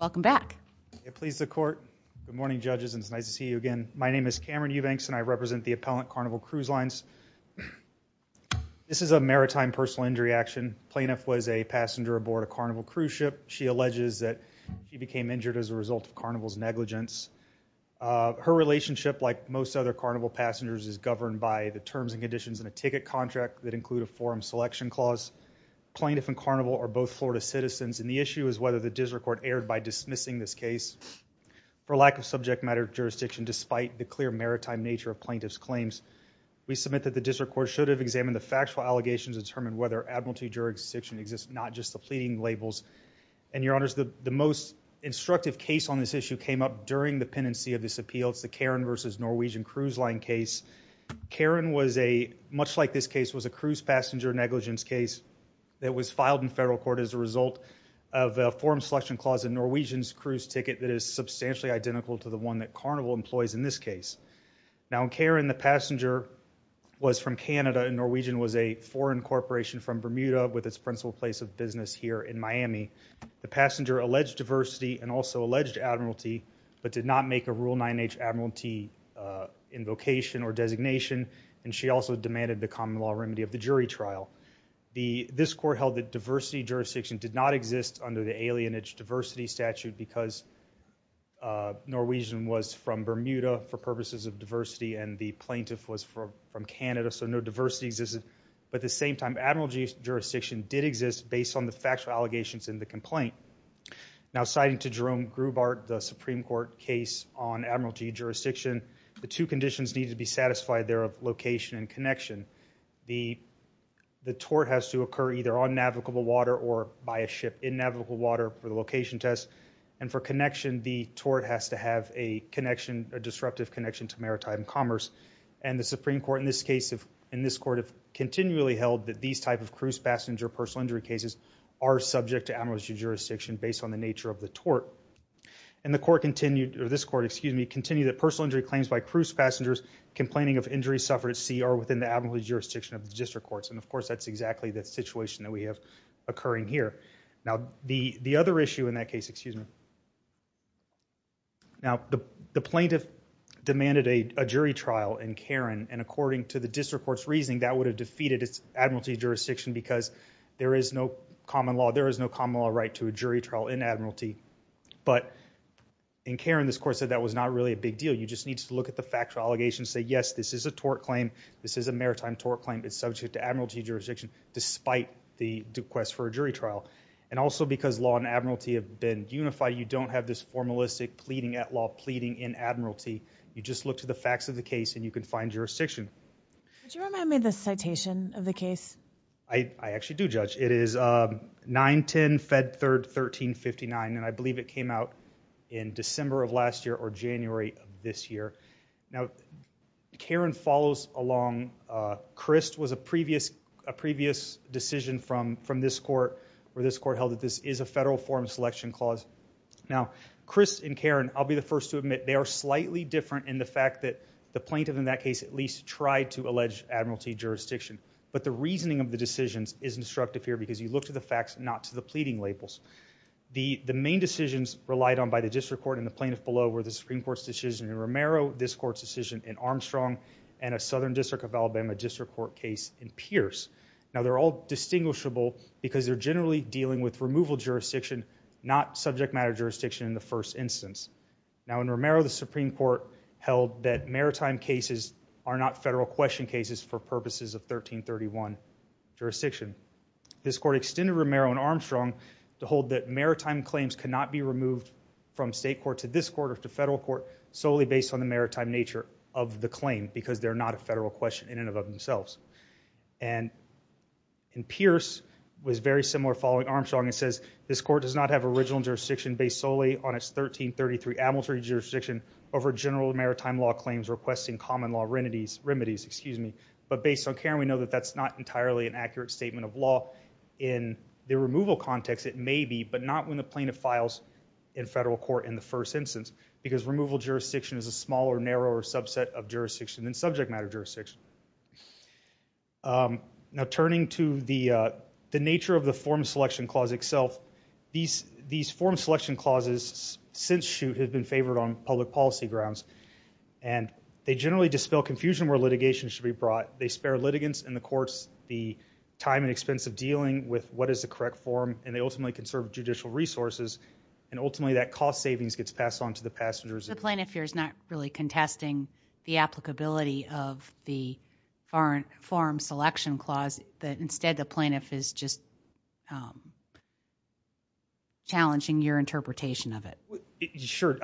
My name is Cameron Eubanks and I represent the appellant Carnival Cruise Lines. This is a maritime personal injury action. Plaintiff was a passenger aboard a Carnival cruise ship. She alleges that she became injured as a result of Carnival's negligence. Her relationship, like most other Carnival passengers, is governed by the terms and conditions in a ticket contract that include a forum selection clause. Plaintiff and Carnival are both Florida citizens and the issue is whether the district court erred by dismissing this case for lack of subject matter jurisdiction despite the clear maritime nature of plaintiff's claims. We submit that the district court should have examined the factual allegations to determine whether admiralty jurisdiction exists, not just the pleading labels. And your honors, the most instructive case on this issue came up during the pendency of this appeal. It's the Karen versus Norwegian Cruise Line case. Karen was a, much like this case, was a cruise passenger negligence case that was filed in federal court as a result of a forum selection clause in Norwegian's cruise ticket that is substantially identical to the one that Carnival employs in this case. Now in Karen, the passenger was from Canada and Norwegian was a foreign corporation from Bermuda with its principal place of business here in Miami. The passenger alleged diversity and also alleged admiralty but did not make a rule 9h admiralty invocation or designation and she also demanded the common law remedy of the jury trial. This court held that diversity jurisdiction did not exist under the alienage diversity statute because Norwegian was from Bermuda for purposes of diversity and the plaintiff was from Canada, so no diversity existed. But at the same time, admiralty jurisdiction did exist based on the factual allegations in the complaint. Now citing to Jerome Grubart, the Supreme Court case on admiralty jurisdiction, the two conditions need to be satisfied there of location and connection. The tort has to occur either on navigable water or by a ship in navigable water for the location test and for connection, the tort has to have a connection, a disruptive connection to maritime commerce and the Supreme Court in this case, in this court, have continually held that these types of cruise passenger personal injury cases are subject to admiralty jurisdiction based on the nature of the tort. And the court continued, or this court, excuse me, continued that personal injury claims by cruise passengers complaining of injuries suffered at sea are within the admiralty jurisdiction of the district courts. And of course, that's exactly the situation that we have occurring here. Now the other issue in that case, excuse me. Now the plaintiff demanded a jury trial in Karen and according to the district court's defeated its admiralty jurisdiction because there is no common law, there is no common law right to a jury trial in admiralty. But in Karen, this court said that was not really a big deal. You just need to look at the factual allegations, say yes, this is a tort claim, this is a maritime tort claim, it's subject to admiralty jurisdiction despite the request for a jury trial. And also because law and admiralty have been unified, you don't have this formalistic pleading at law, pleading in admiralty. You just look to the facts of the case and you can find jurisdiction. Would you remind me of the citation of the case? I actually do judge. It is 9-10-Fed-3rd-13-59 and I believe it came out in December of last year or January of this year. Now Karen follows along, Crist was a previous decision from this court where this court held that this is a federal form of selection clause. Now Crist and Karen, I'll be the first to admit, they are slightly different in the fact that the plaintiff in that case at least tried to allege admiralty jurisdiction. But the reasoning of the decisions is instructive here because you look to the facts, not to the pleading labels. The main decisions relied on by the district court and the plaintiff below were the Supreme Court's decision in Romero, this court's decision in Armstrong, and a Southern District of Alabama district court case in Pierce. Now they're all distinguishable because they're generally dealing with removal jurisdiction, not subject matter jurisdiction in the first instance. Now in Romero the Supreme Court held that maritime cases are not federal question cases for purposes of 1331 jurisdiction. This court extended Romero and Armstrong to hold that maritime claims cannot be removed from state court to this court or to federal court solely based on the maritime nature of the claim because they're not a federal question in and of themselves. And in Pierce was very similar following Armstrong. It says this court does not have original jurisdiction based solely on its 1333 admiralty jurisdiction over general maritime law claims requesting common law remedies. But based on Karen we know that that's not entirely an accurate statement of law. In the removal context it may be, but not when the plaintiff files in federal court in the first instance because removal jurisdiction is a smaller, narrower subset of jurisdiction than subject matter jurisdiction. Now turning to the nature of the form selection clause itself, these form selection clauses since shoot have been favored on public policy grounds. And they generally dispel confusion where litigation should be brought. They spare litigants in the courts the time and expense of dealing with what is the correct form and they ultimately conserve judicial resources and ultimately that cost savings gets passed on to the passengers. The plaintiff here is not really contesting the applicability of the form selection clause that instead the plaintiff is just challenging your interpretation of it. Sure.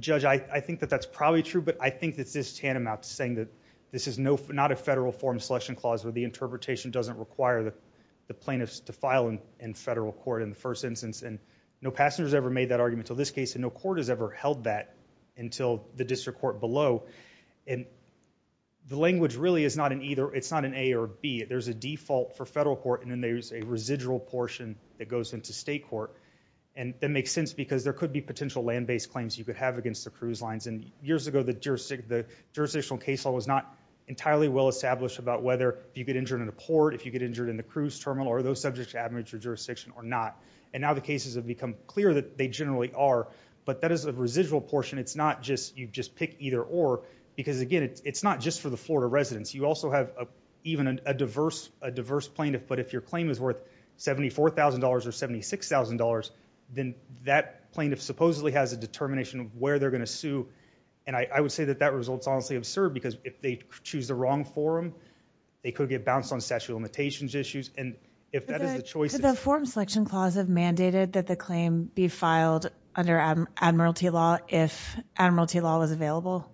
Judge, I think that that's probably true, but I think that's this tantamount to saying that this is not a federal form selection clause where the interpretation doesn't require the plaintiffs to file in federal court in the first instance. And no passengers ever made that argument until this case and no court has ever held that until the district court below. And the language really is not an either, it's not an A or B. There's a default for federal court and then there's a residual portion that goes into state court. And that makes sense because there could be potential land-based claims you could have against the cruise lines. And years ago the jurisdictional case law was not entirely well established about whether you get injured in a port, if you get injured in the cruise terminal, are those subjects to administrative jurisdiction or not. And now the cases have become clear that they generally are, but that is a residual portion. It's not just you just pick either or, because again, it's not just for the Florida residents. You also have even a diverse plaintiff, but if your claim is worth $74,000 or $76,000, then that plaintiff supposedly has a determination of where they're going to sue. And I would say that that result's honestly absurd because if they choose the wrong forum, they could get bounced on statute of limitations issues. If that is the choice... Could the forum selection clause have mandated that the claim be filed under admiralty law if admiralty law was available?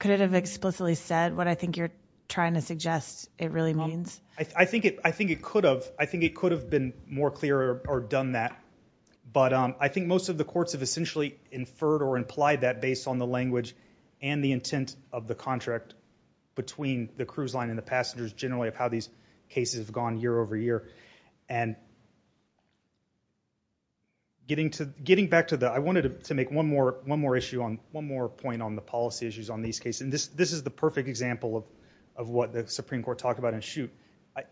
Could it have explicitly said what I think you're trying to suggest it really means? I think it could have. I think it could have been more clear or done that. But I think most of the courts have essentially inferred or implied that based on the language and the intent of the and getting back to the... I wanted to make one more issue on one more point on the policy issues on these cases. And this is the perfect example of what the Supreme Court talked about in shoot.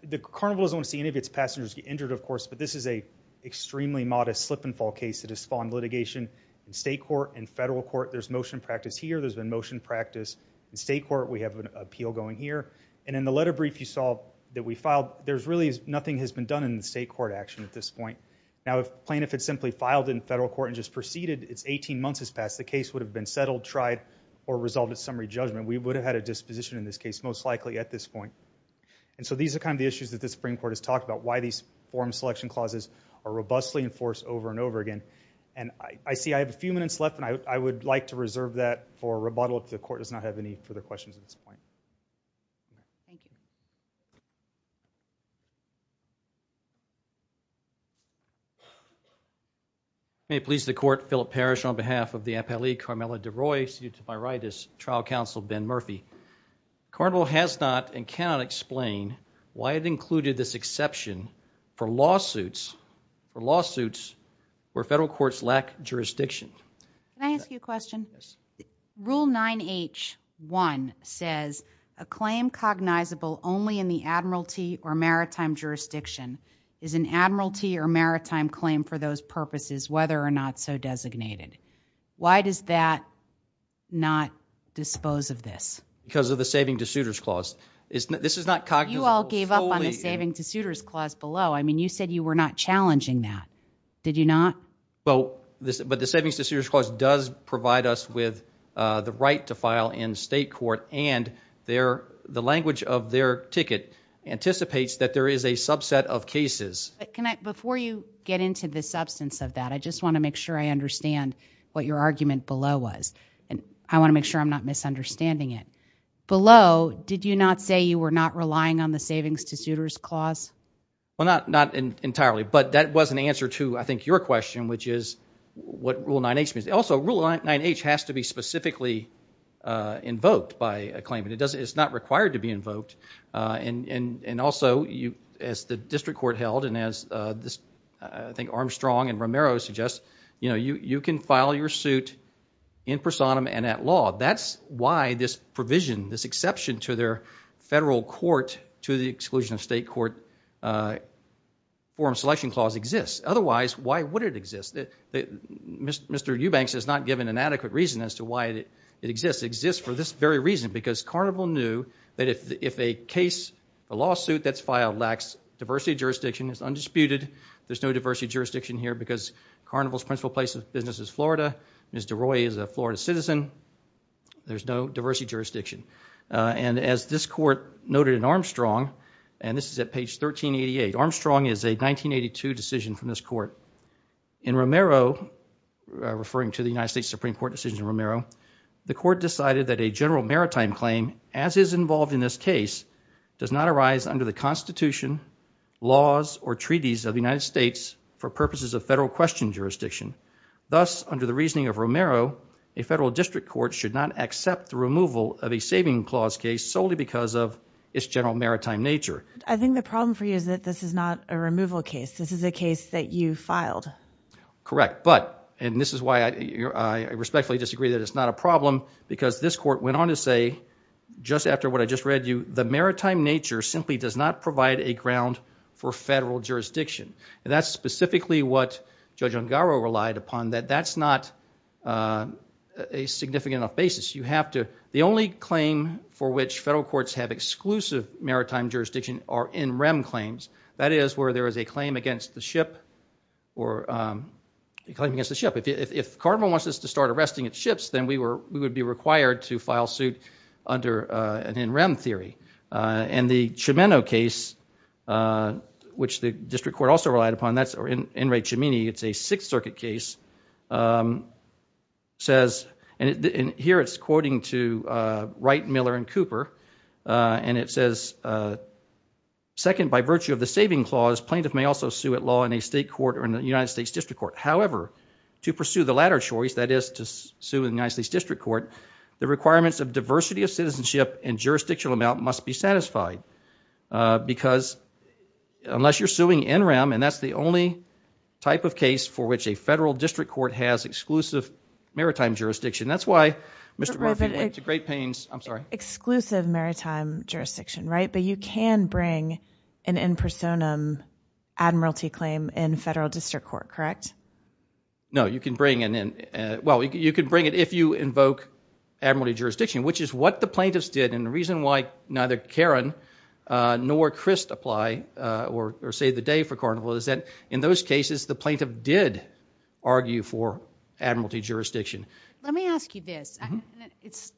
The carnival doesn't want to see any of its passengers get injured, of course, but this is a extremely modest slip and fall case that has spawned litigation in state court and federal court. There's motion practice here. There's been motion practice in state court. We have an appeal going here. And in the letter brief you saw that we filed, there's really nothing has been done in the state court action at this point. Now, if plaintiff had simply filed in federal court and just proceeded, it's 18 months has passed. The case would have been settled, tried, or resolved at summary judgment. We would have had a disposition in this case most likely at this point. And so these are kind of the issues that the Supreme Court has talked about, why these forum selection clauses are robustly enforced over and over again. And I see I have a few minutes left, and I would like to reserve that for rebuttal if the court does not have any further questions at this point. Thank you. May it please the court, Philip Parrish on behalf of the Appellee Carmela DeRoy, sued to viritis, trial counsel Ben Murphy. Carnival has not and cannot explain why it included this exception for lawsuits, for lawsuits where federal courts lack jurisdiction. Can I ask you a question? Yes. Rule 9H1 says a claim cognizable only in the admiralty or maritime jurisdiction is an admiralty or maritime claim for those purposes, whether or not so designated. Why does that not dispose of this? Because of the saving to suitors clause. This is not cognizant. You all gave up on the saving to suitors clause below. I mean, you said you were not challenging that. Did you not? Well, but the savings to suitors clause does provide us with the right to file in state court, and the language of their ticket anticipates that there is a subset of cases. Before you get into the substance of that, I just want to make sure I understand what your argument below was, and I want to make sure I'm not misunderstanding it. Below, did you not say you were not relying on the savings to suitors clause? Well, not entirely, but that was an answer to, I think, your question, which is what Rule 9H means. Also, Rule 9H has to be specifically invoked by a claimant. It's not required to be invoked. And also, as the district court held, and as I think Armstrong and Romero suggest, you know, you can file your suit in personam and at law. That's why this provision, this exception to their federal court to the exclusion of state court forum selection clause exists. Otherwise, why would it exist? Mr. Eubanks has not given an adequate reason as to why it exists. It exists for this very reason, because Carnival knew that if a case, a lawsuit that's filed lacks diversity of jurisdiction, it's undisputed, there's no diversity of jurisdiction here because Carnival's principal place of business is Florida. Mr. Roy is a Florida citizen. There's no diversity jurisdiction. And as this court noted in Armstrong, and this is at page 1388, Armstrong is a 1982 decision from this court. In Romero, referring to the United States Supreme Court decision in Romero, the court decided that a general maritime claim, as is involved in this case, does not arise under the Constitution, laws, or treaties of the United States for purposes of Romero, a federal district court should not accept the removal of a saving clause case solely because of its general maritime nature. I think the problem for you is that this is not a removal case. This is a case that you filed. Correct. But, and this is why I respectfully disagree that it's not a problem, because this court went on to say, just after what I just read you, the maritime nature simply does not provide a ground for federal jurisdiction. And that's specifically what Judge Ungaro relied upon, that that's not a significant enough basis. You have to, the only claim for which federal courts have exclusive maritime jurisdiction are NREM claims. That is where there is a claim against the ship, or a claim against the ship. If Carnival wants us to start arresting its ships, then we were, we would be required to file suit under an NREM theory. And the Chimeno case, which the district court also relied upon, that's, or N. Ray Chimeney, it's a Sixth Circuit case, says, and here it's quoting to Wright, Miller, and Cooper, and it says, second, by virtue of the saving clause, plaintiff may also sue at law in a state court or in the United States District Court. However, to pursue the latter choice, that is to sue in the United States District Court, the requirements of diversity of citizenship and jurisdictional amount must be satisfied. Because unless you're suing NREM, and that's the only type of case for which a federal district court has exclusive maritime jurisdiction, that's why Mr. Murphy went to great pains, I'm sorry. Exclusive maritime jurisdiction, right? But you can bring an in personam admiralty claim in federal district court, correct? No, you can bring an in, well, you can bring it if you invoke admiralty jurisdiction, which is what the plaintiffs did, and the reason why neither Karen nor Crist apply or save the day for Carnival is that in those cases, the plaintiff did argue for admiralty jurisdiction. Let me ask you this, it's,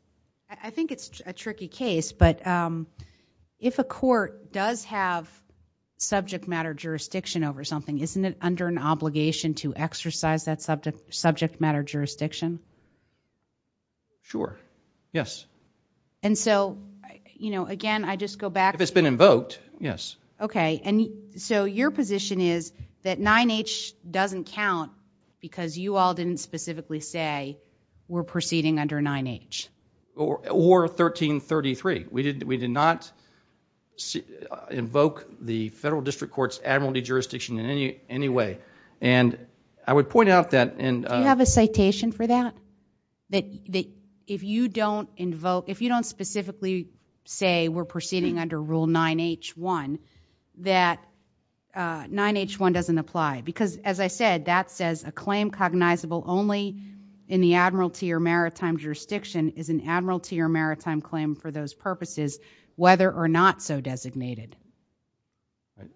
I think it's a tricky case, but if a court does have subject matter jurisdiction over something, isn't it under an obligation to exercise that subject matter jurisdiction? Sure, yes. And so, you know, again, I just go back. If it's been invoked, yes. Okay, and so your position is that 9-H doesn't count because you all didn't specifically say we're proceeding under 9-H? Or 1333, we did not invoke the federal district court's admiralty jurisdiction in any way, and I would point out that. Do you have a citation for that? That if you don't invoke, if you don't specifically say we're proceeding under rule 9-H-1, that 9-H-1 doesn't apply, because as I said, that says a claim cognizable only in the admiralty or maritime jurisdiction is an admiralty or maritime claim for those purposes, whether or not so designated. Right.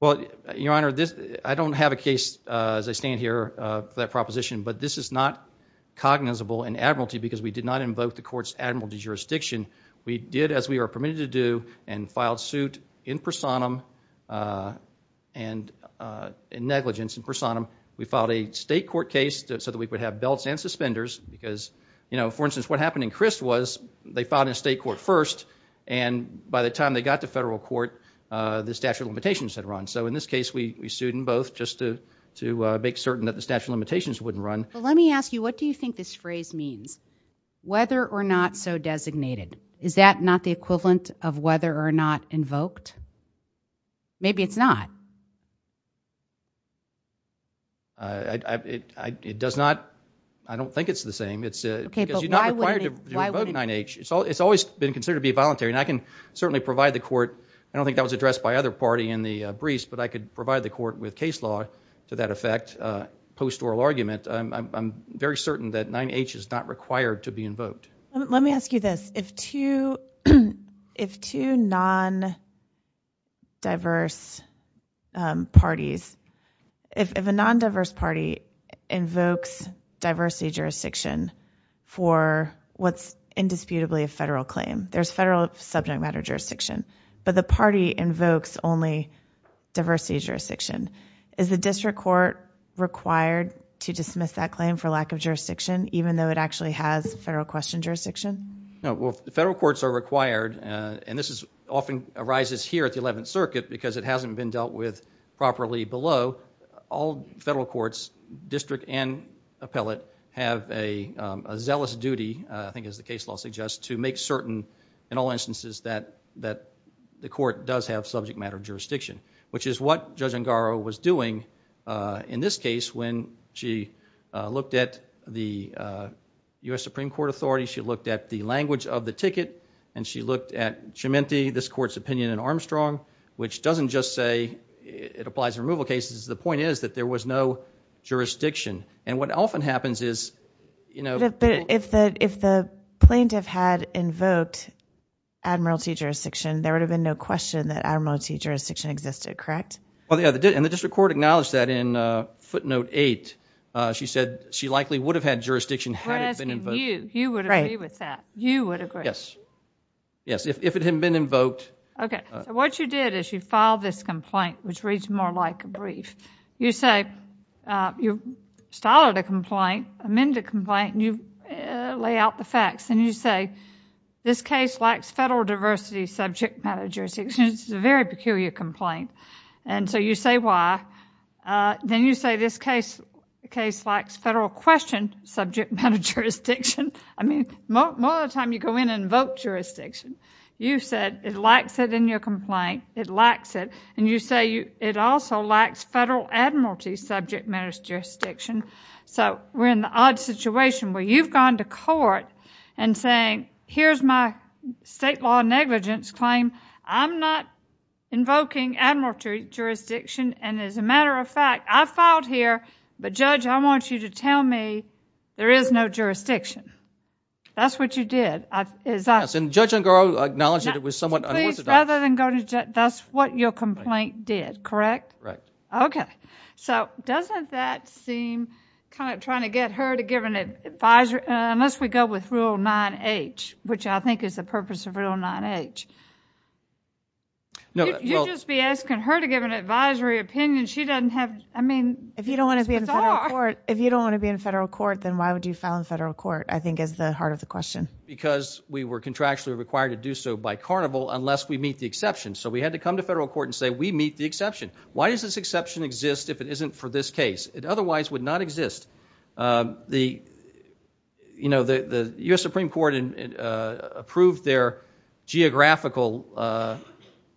Well, your honor, this, I don't have a case as I stand here for that proposition, but this is not cognizable in admiralty because we did not invoke the court's admiralty jurisdiction. We did as we are permitted to do and filed suit in personam and in negligence in personam. We filed a state court case so that we could have belts and suspenders because, you know, for instance, what happened in Crist was they filed in state court first, and by the time they got to federal court, the statute of limitations had run. So in this case, we sued in both just to make certain that the statute of limitations wouldn't run. But let me ask you, what do you think this phrase means, whether or not so designated? Is that not the equivalent of whether or not invoked? Maybe it's not. It does not. I don't think it's the same. It's because you're not required to invoke 9-H. It's always been considered to be voluntary, and I can certainly provide the court. I don't think that was addressed by other party in the briefs, but I could provide the court with case law to that effect post oral argument. I'm very certain that 9-H is not required to be invoked. Let me ask you this. If two non-diverse parties, if a non-diverse party invokes diversity jurisdiction for what's indisputably a federal claim, there's federal subject matter jurisdiction, but the party invokes only diversity jurisdiction, is the district court required to dismiss that claim for lack of jurisdiction, even though it actually has federal question jurisdiction? No. Well, federal courts are required, and this often arises here at the 11th appellate, have a zealous duty, I think as the case law suggests, to make certain, in all instances, that the court does have subject matter jurisdiction, which is what Judge Angaro was doing in this case when she looked at the U.S. Supreme Court authority. She looked at the language of the ticket, and she looked at Cementi, this court's opinion in Armstrong, which doesn't just say it applies to removal cases. The point is that there was no question. If the plaintiff had invoked admiralty jurisdiction, there would have been no question that admiralty jurisdiction existed, correct? The district court acknowledged that in footnote 8. She said she likely would have had jurisdiction had it been invoked. You would agree with that. You would agree. Yes. If it had been invoked. Okay. What you did is you filed this complaint, which reads more like a brief. You say you started a complaint, amended a complaint, and you lay out the facts, and you say this case lacks federal diversity subject matter jurisdiction. This is a very peculiar complaint. So you say why. Then you say this case lacks federal question subject matter jurisdiction. I mean, most of the time you go in and invoke jurisdiction. You said it lacks it in your admiralty subject matter jurisdiction. So we're in the odd situation where you've gone to court and saying here's my state law negligence claim. I'm not invoking admiralty jurisdiction, and as a matter of fact, I filed here, but Judge, I want you to tell me there is no jurisdiction. That's what you did. Judge Ungar acknowledged it was somewhat unorthodox. That's what your complaint did, correct? Right. Okay. So doesn't that seem kind of trying to get her to give an advisory, unless we go with Rule 9H, which I think is the purpose of Rule 9H. You'd just be asking her to give an advisory opinion. She doesn't have, I mean. If you don't want to be in federal court, then why would you file in federal court, I think is the heart of the question. Because we were contractually required to do so by carnival unless we meet the exception. So we had to come to federal court and say we meet the exception. Why does this exception exist if it isn't for this case? It otherwise would not exist. The U.S. Supreme Court approved their geographical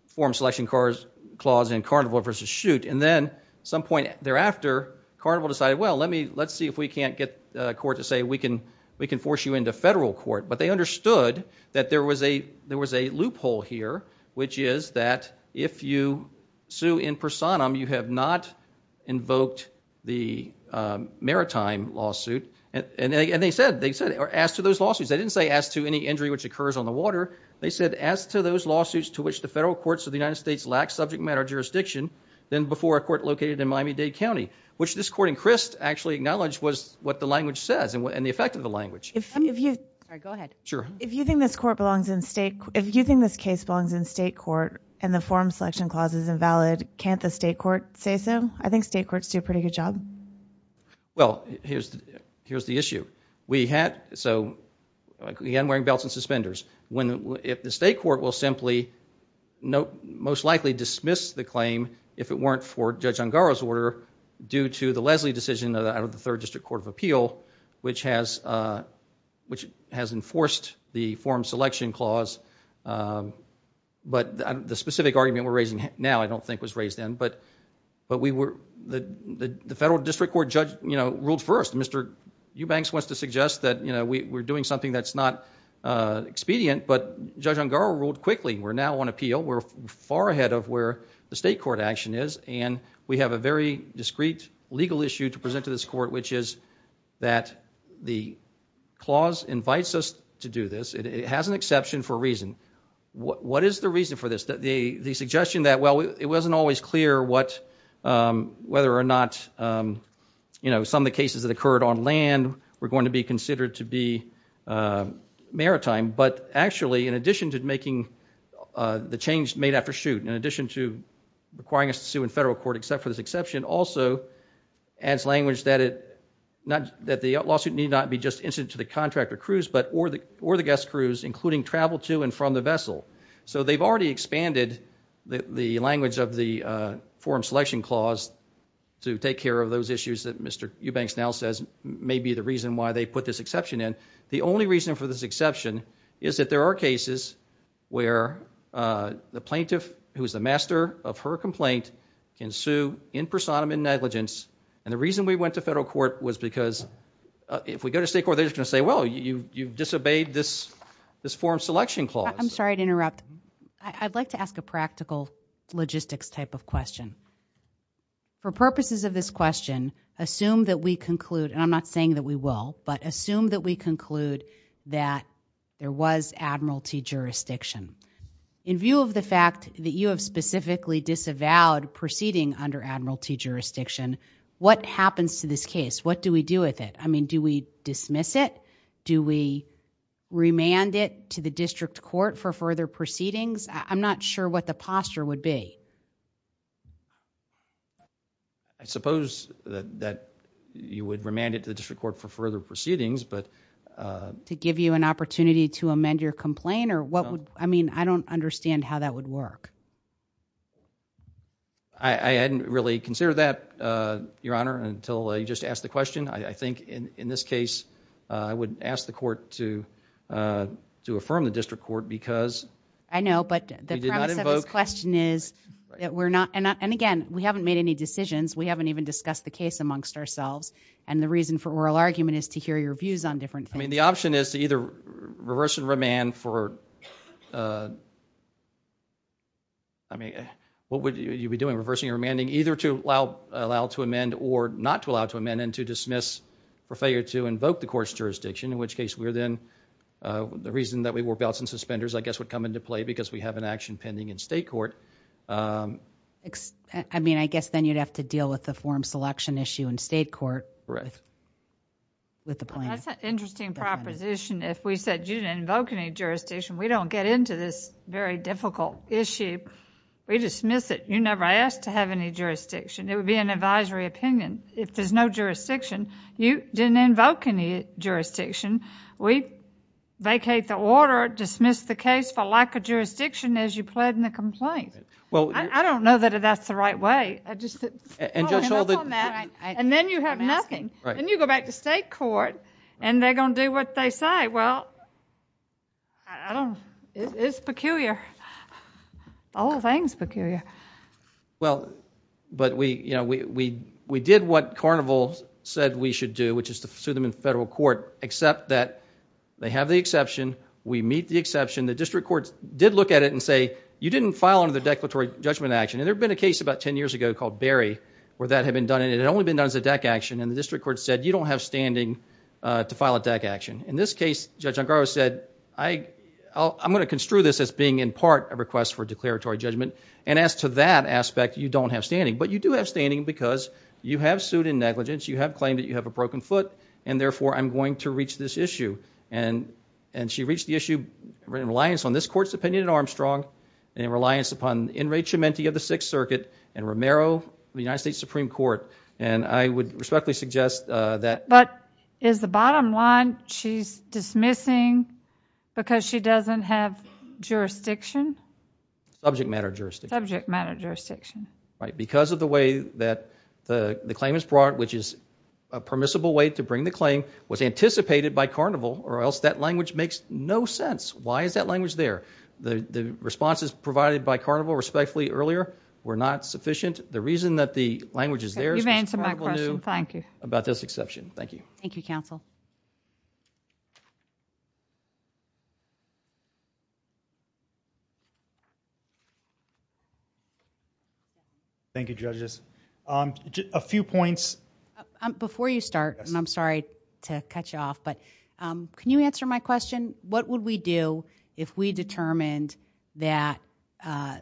form selection clause in carnival versus shoot, and then at some point thereafter, carnival decided, well, let's see if we can't get court to say we can force you into federal court. But they understood that there was a loophole here, which is that if you sue in personam, you have not invoked the maritime lawsuit. And they said, as to those lawsuits, they didn't say as to any injury which occurs on the water. They said as to those lawsuits to which the federal courts of the United States lack subject matter jurisdiction than before a court located in Miami-Dade County, which this court in Crist actually acknowledged was what the language says and the effect of language. If you think this case belongs in state court and the form selection clause is invalid, can't the state court say so? I think state courts do a pretty good job. Well, here's the issue. Again, wearing belts and suspenders. If the state court will simply most likely dismiss the claim if it weren't for Judge Ungaro's order due to the Leslie decision out of the Third District Court of Appeal, which has enforced the form selection clause. But the specific argument we're raising now I don't think was raised then. But the federal district court judge ruled first. Mr. Eubanks wants to suggest that we're doing something that's not expedient. But Judge Ungaro ruled quickly. We're now on appeal. We're far ahead of where the state court action is. And we have a very discrete legal issue to present to this court, which is that the clause invites us to do this. It has an exception for a reason. What is the reason for this? The suggestion that, well, it wasn't always clear whether or not, you know, some of the cases that occurred on land were going to be considered to be maritime. But actually, in addition to making the change made after shoot, in addition to requiring us to sue in federal court except for this exception, also adds language that the lawsuit need not be just incident to the contractor crews, but or the guest crews, including travel to and from the vessel. So they've already expanded the language of the form selection clause to take care of those issues that Mr. Eubanks now says may be the reason why they put this exception in. The only reason for this exception is that there are cases where the plaintiff, who is the master of her complaint, can sue in personam and negligence. And the reason we went to federal court was because if we go to state court, they're just going to say, well, you disobeyed this form selection clause. I'm sorry to interrupt. I'd like to ask a practical logistics type of question. For purposes of this question, assume that we conclude, and I'm not saying that we will, but assume that we conclude that there was admiralty jurisdiction. In view of the fact that you have specifically disavowed proceeding under admiralty jurisdiction, what happens to this case? What do we do with it? I mean, do we dismiss it? Do we remand it to the district court for further proceedings? I'm not sure what the posture would be. I suppose that you would remand it to the district court for further proceedings, but to give you an opportunity to amend your complaint, or what would, I mean, I don't understand how that would work. I hadn't really considered that, Your Honor, until you just asked the question. I think in this case, I would ask the court to affirm the district court because I know, but the premise of this question is that we're not, and again, we haven't made any decisions. We haven't even discussed the case amongst ourselves, and the reason for oral argument is to hear your views on different things. I mean, the option is to either reverse and remand for, I mean, what would you be doing, reversing or remanding, either to allow to amend or not to allow to amend and to dismiss for failure to invoke the court's jurisdiction, in which case, we're then, the reason that we wore belts and suspenders, I guess, would come into play because we have an I mean, I guess then you'd have to deal with the form selection issue in state court. Right. With the plaintiff. That's an interesting proposition. If we said you didn't invoke any jurisdiction, we don't get into this very difficult issue. We dismiss it. You never asked to have any jurisdiction. It would be an advisory opinion. If there's no jurisdiction, you didn't invoke any jurisdiction. We vacate the order, dismiss the case for lack of jurisdiction as you pled in the right way. And then you have nothing. Then you go back to state court and they're going to do what they say. Well, I don't, it's peculiar. All things peculiar. Well, but we, you know, we did what Carnival said we should do, which is to sue them in federal court, except that they have the exception. We meet the exception. The district courts did look at it and say, you didn't file under the declaratory judgment action. And there'd been a case about 10 years ago called Barry, where that had been done. And it had only been done as a deck action. And the district court said, you don't have standing to file a deck action. In this case, Judge Ongaro said, I, I'm going to construe this as being in part a request for declaratory judgment. And as to that aspect, you don't have standing, but you do have standing because you have sued in negligence. You have claimed that you have a broken foot and therefore I'm going to reach this issue. And, and she reached the issue in reliance on this court's opinion in Armstrong and in reliance upon the enrechemente of the Sixth Circuit and Romero, the United States Supreme Court. And I would respectfully suggest that. But is the bottom line, she's dismissing because she doesn't have jurisdiction? Subject matter jurisdiction. Subject matter jurisdiction. Right. Because of the way that the claim is brought, which is a permissible way to bring the claim, was anticipated by Carnival or else that language makes no sense. Why is that language there? The, the responses provided by Carnival respectfully earlier were not sufficient. The reason that the language is there, thank you about this exception. Thank you. Thank you counsel. Thank you judges. Um, a few points before you start and I'm sorry to cut you off, but, um, can you answer my question? What would we do if we determined that, uh,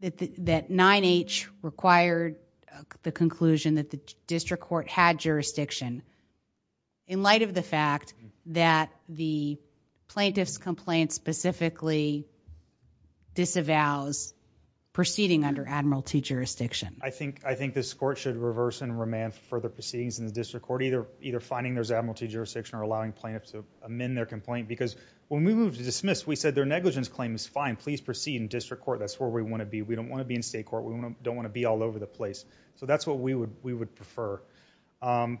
that, that 9-H required the conclusion that the district court had jurisdiction in light of the fact that the plaintiff's complaint specifically disavows proceeding under Admiralty jurisdiction? I think, I think this court should reverse and remand further proceedings in the district either, either finding there's Admiralty jurisdiction or allowing plaintiffs to amend their complaint. Because when we moved to dismiss, we said their negligence claim is fine. Please proceed in district court. That's where we want to be. We don't want to be in state court. We don't want to be all over the place. So that's what we would, we would prefer. Um,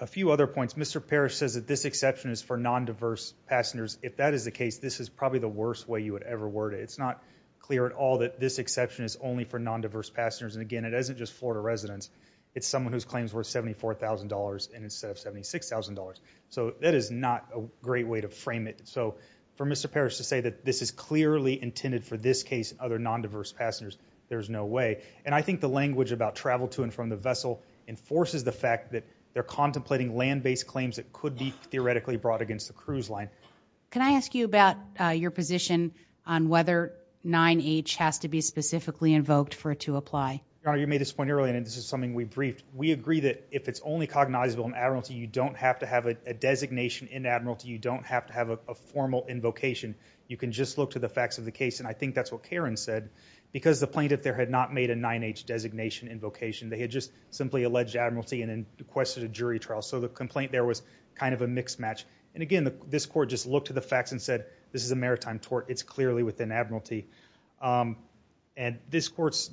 a few other points. Mr. Parrish says that this exception is for non-diverse passengers. If that is the case, this is probably the worst way you would ever word it. It's not clear at all that this exception is only for non-diverse passengers. And again, it isn't just Florida residents. It's someone whose claims were $74,000 and instead of $76,000. So that is not a great way to frame it. So for Mr. Parrish to say that this is clearly intended for this case, other non-diverse passengers, there's no way. And I think the language about travel to and from the vessel enforces the fact that they're contemplating land-based claims that could be theoretically brought against the cruise line. Can I ask you about your position on whether 9-H has to be specifically invoked for it to be briefed? We agree that if it's only cognizable in admiralty, you don't have to have a designation in admiralty. You don't have to have a formal invocation. You can just look to the facts of the case. And I think that's what Karen said because the plaintiff there had not made a 9-H designation invocation. They had just simply alleged admiralty and then requested a jury trial. So the complaint there was kind of a mixed match. And again, this court just looked to the facts and said, this is a maritime tort. It's clearly within admiralty. Um, and this court's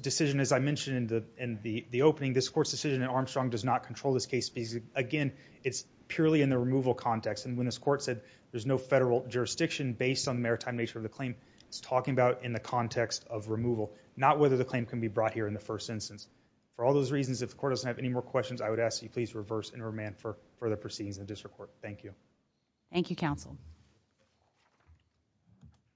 I mentioned in the opening, this court's decision in Armstrong does not control this case because again, it's purely in the removal context. And when this court said there's no federal jurisdiction based on the maritime nature of the claim, it's talking about in the context of removal, not whether the claim can be brought here in the first instance. For all those reasons, if the court doesn't have any more questions, I would ask you please reverse and remand for further proceedings in the district court. Thank you. Thank you, counsel.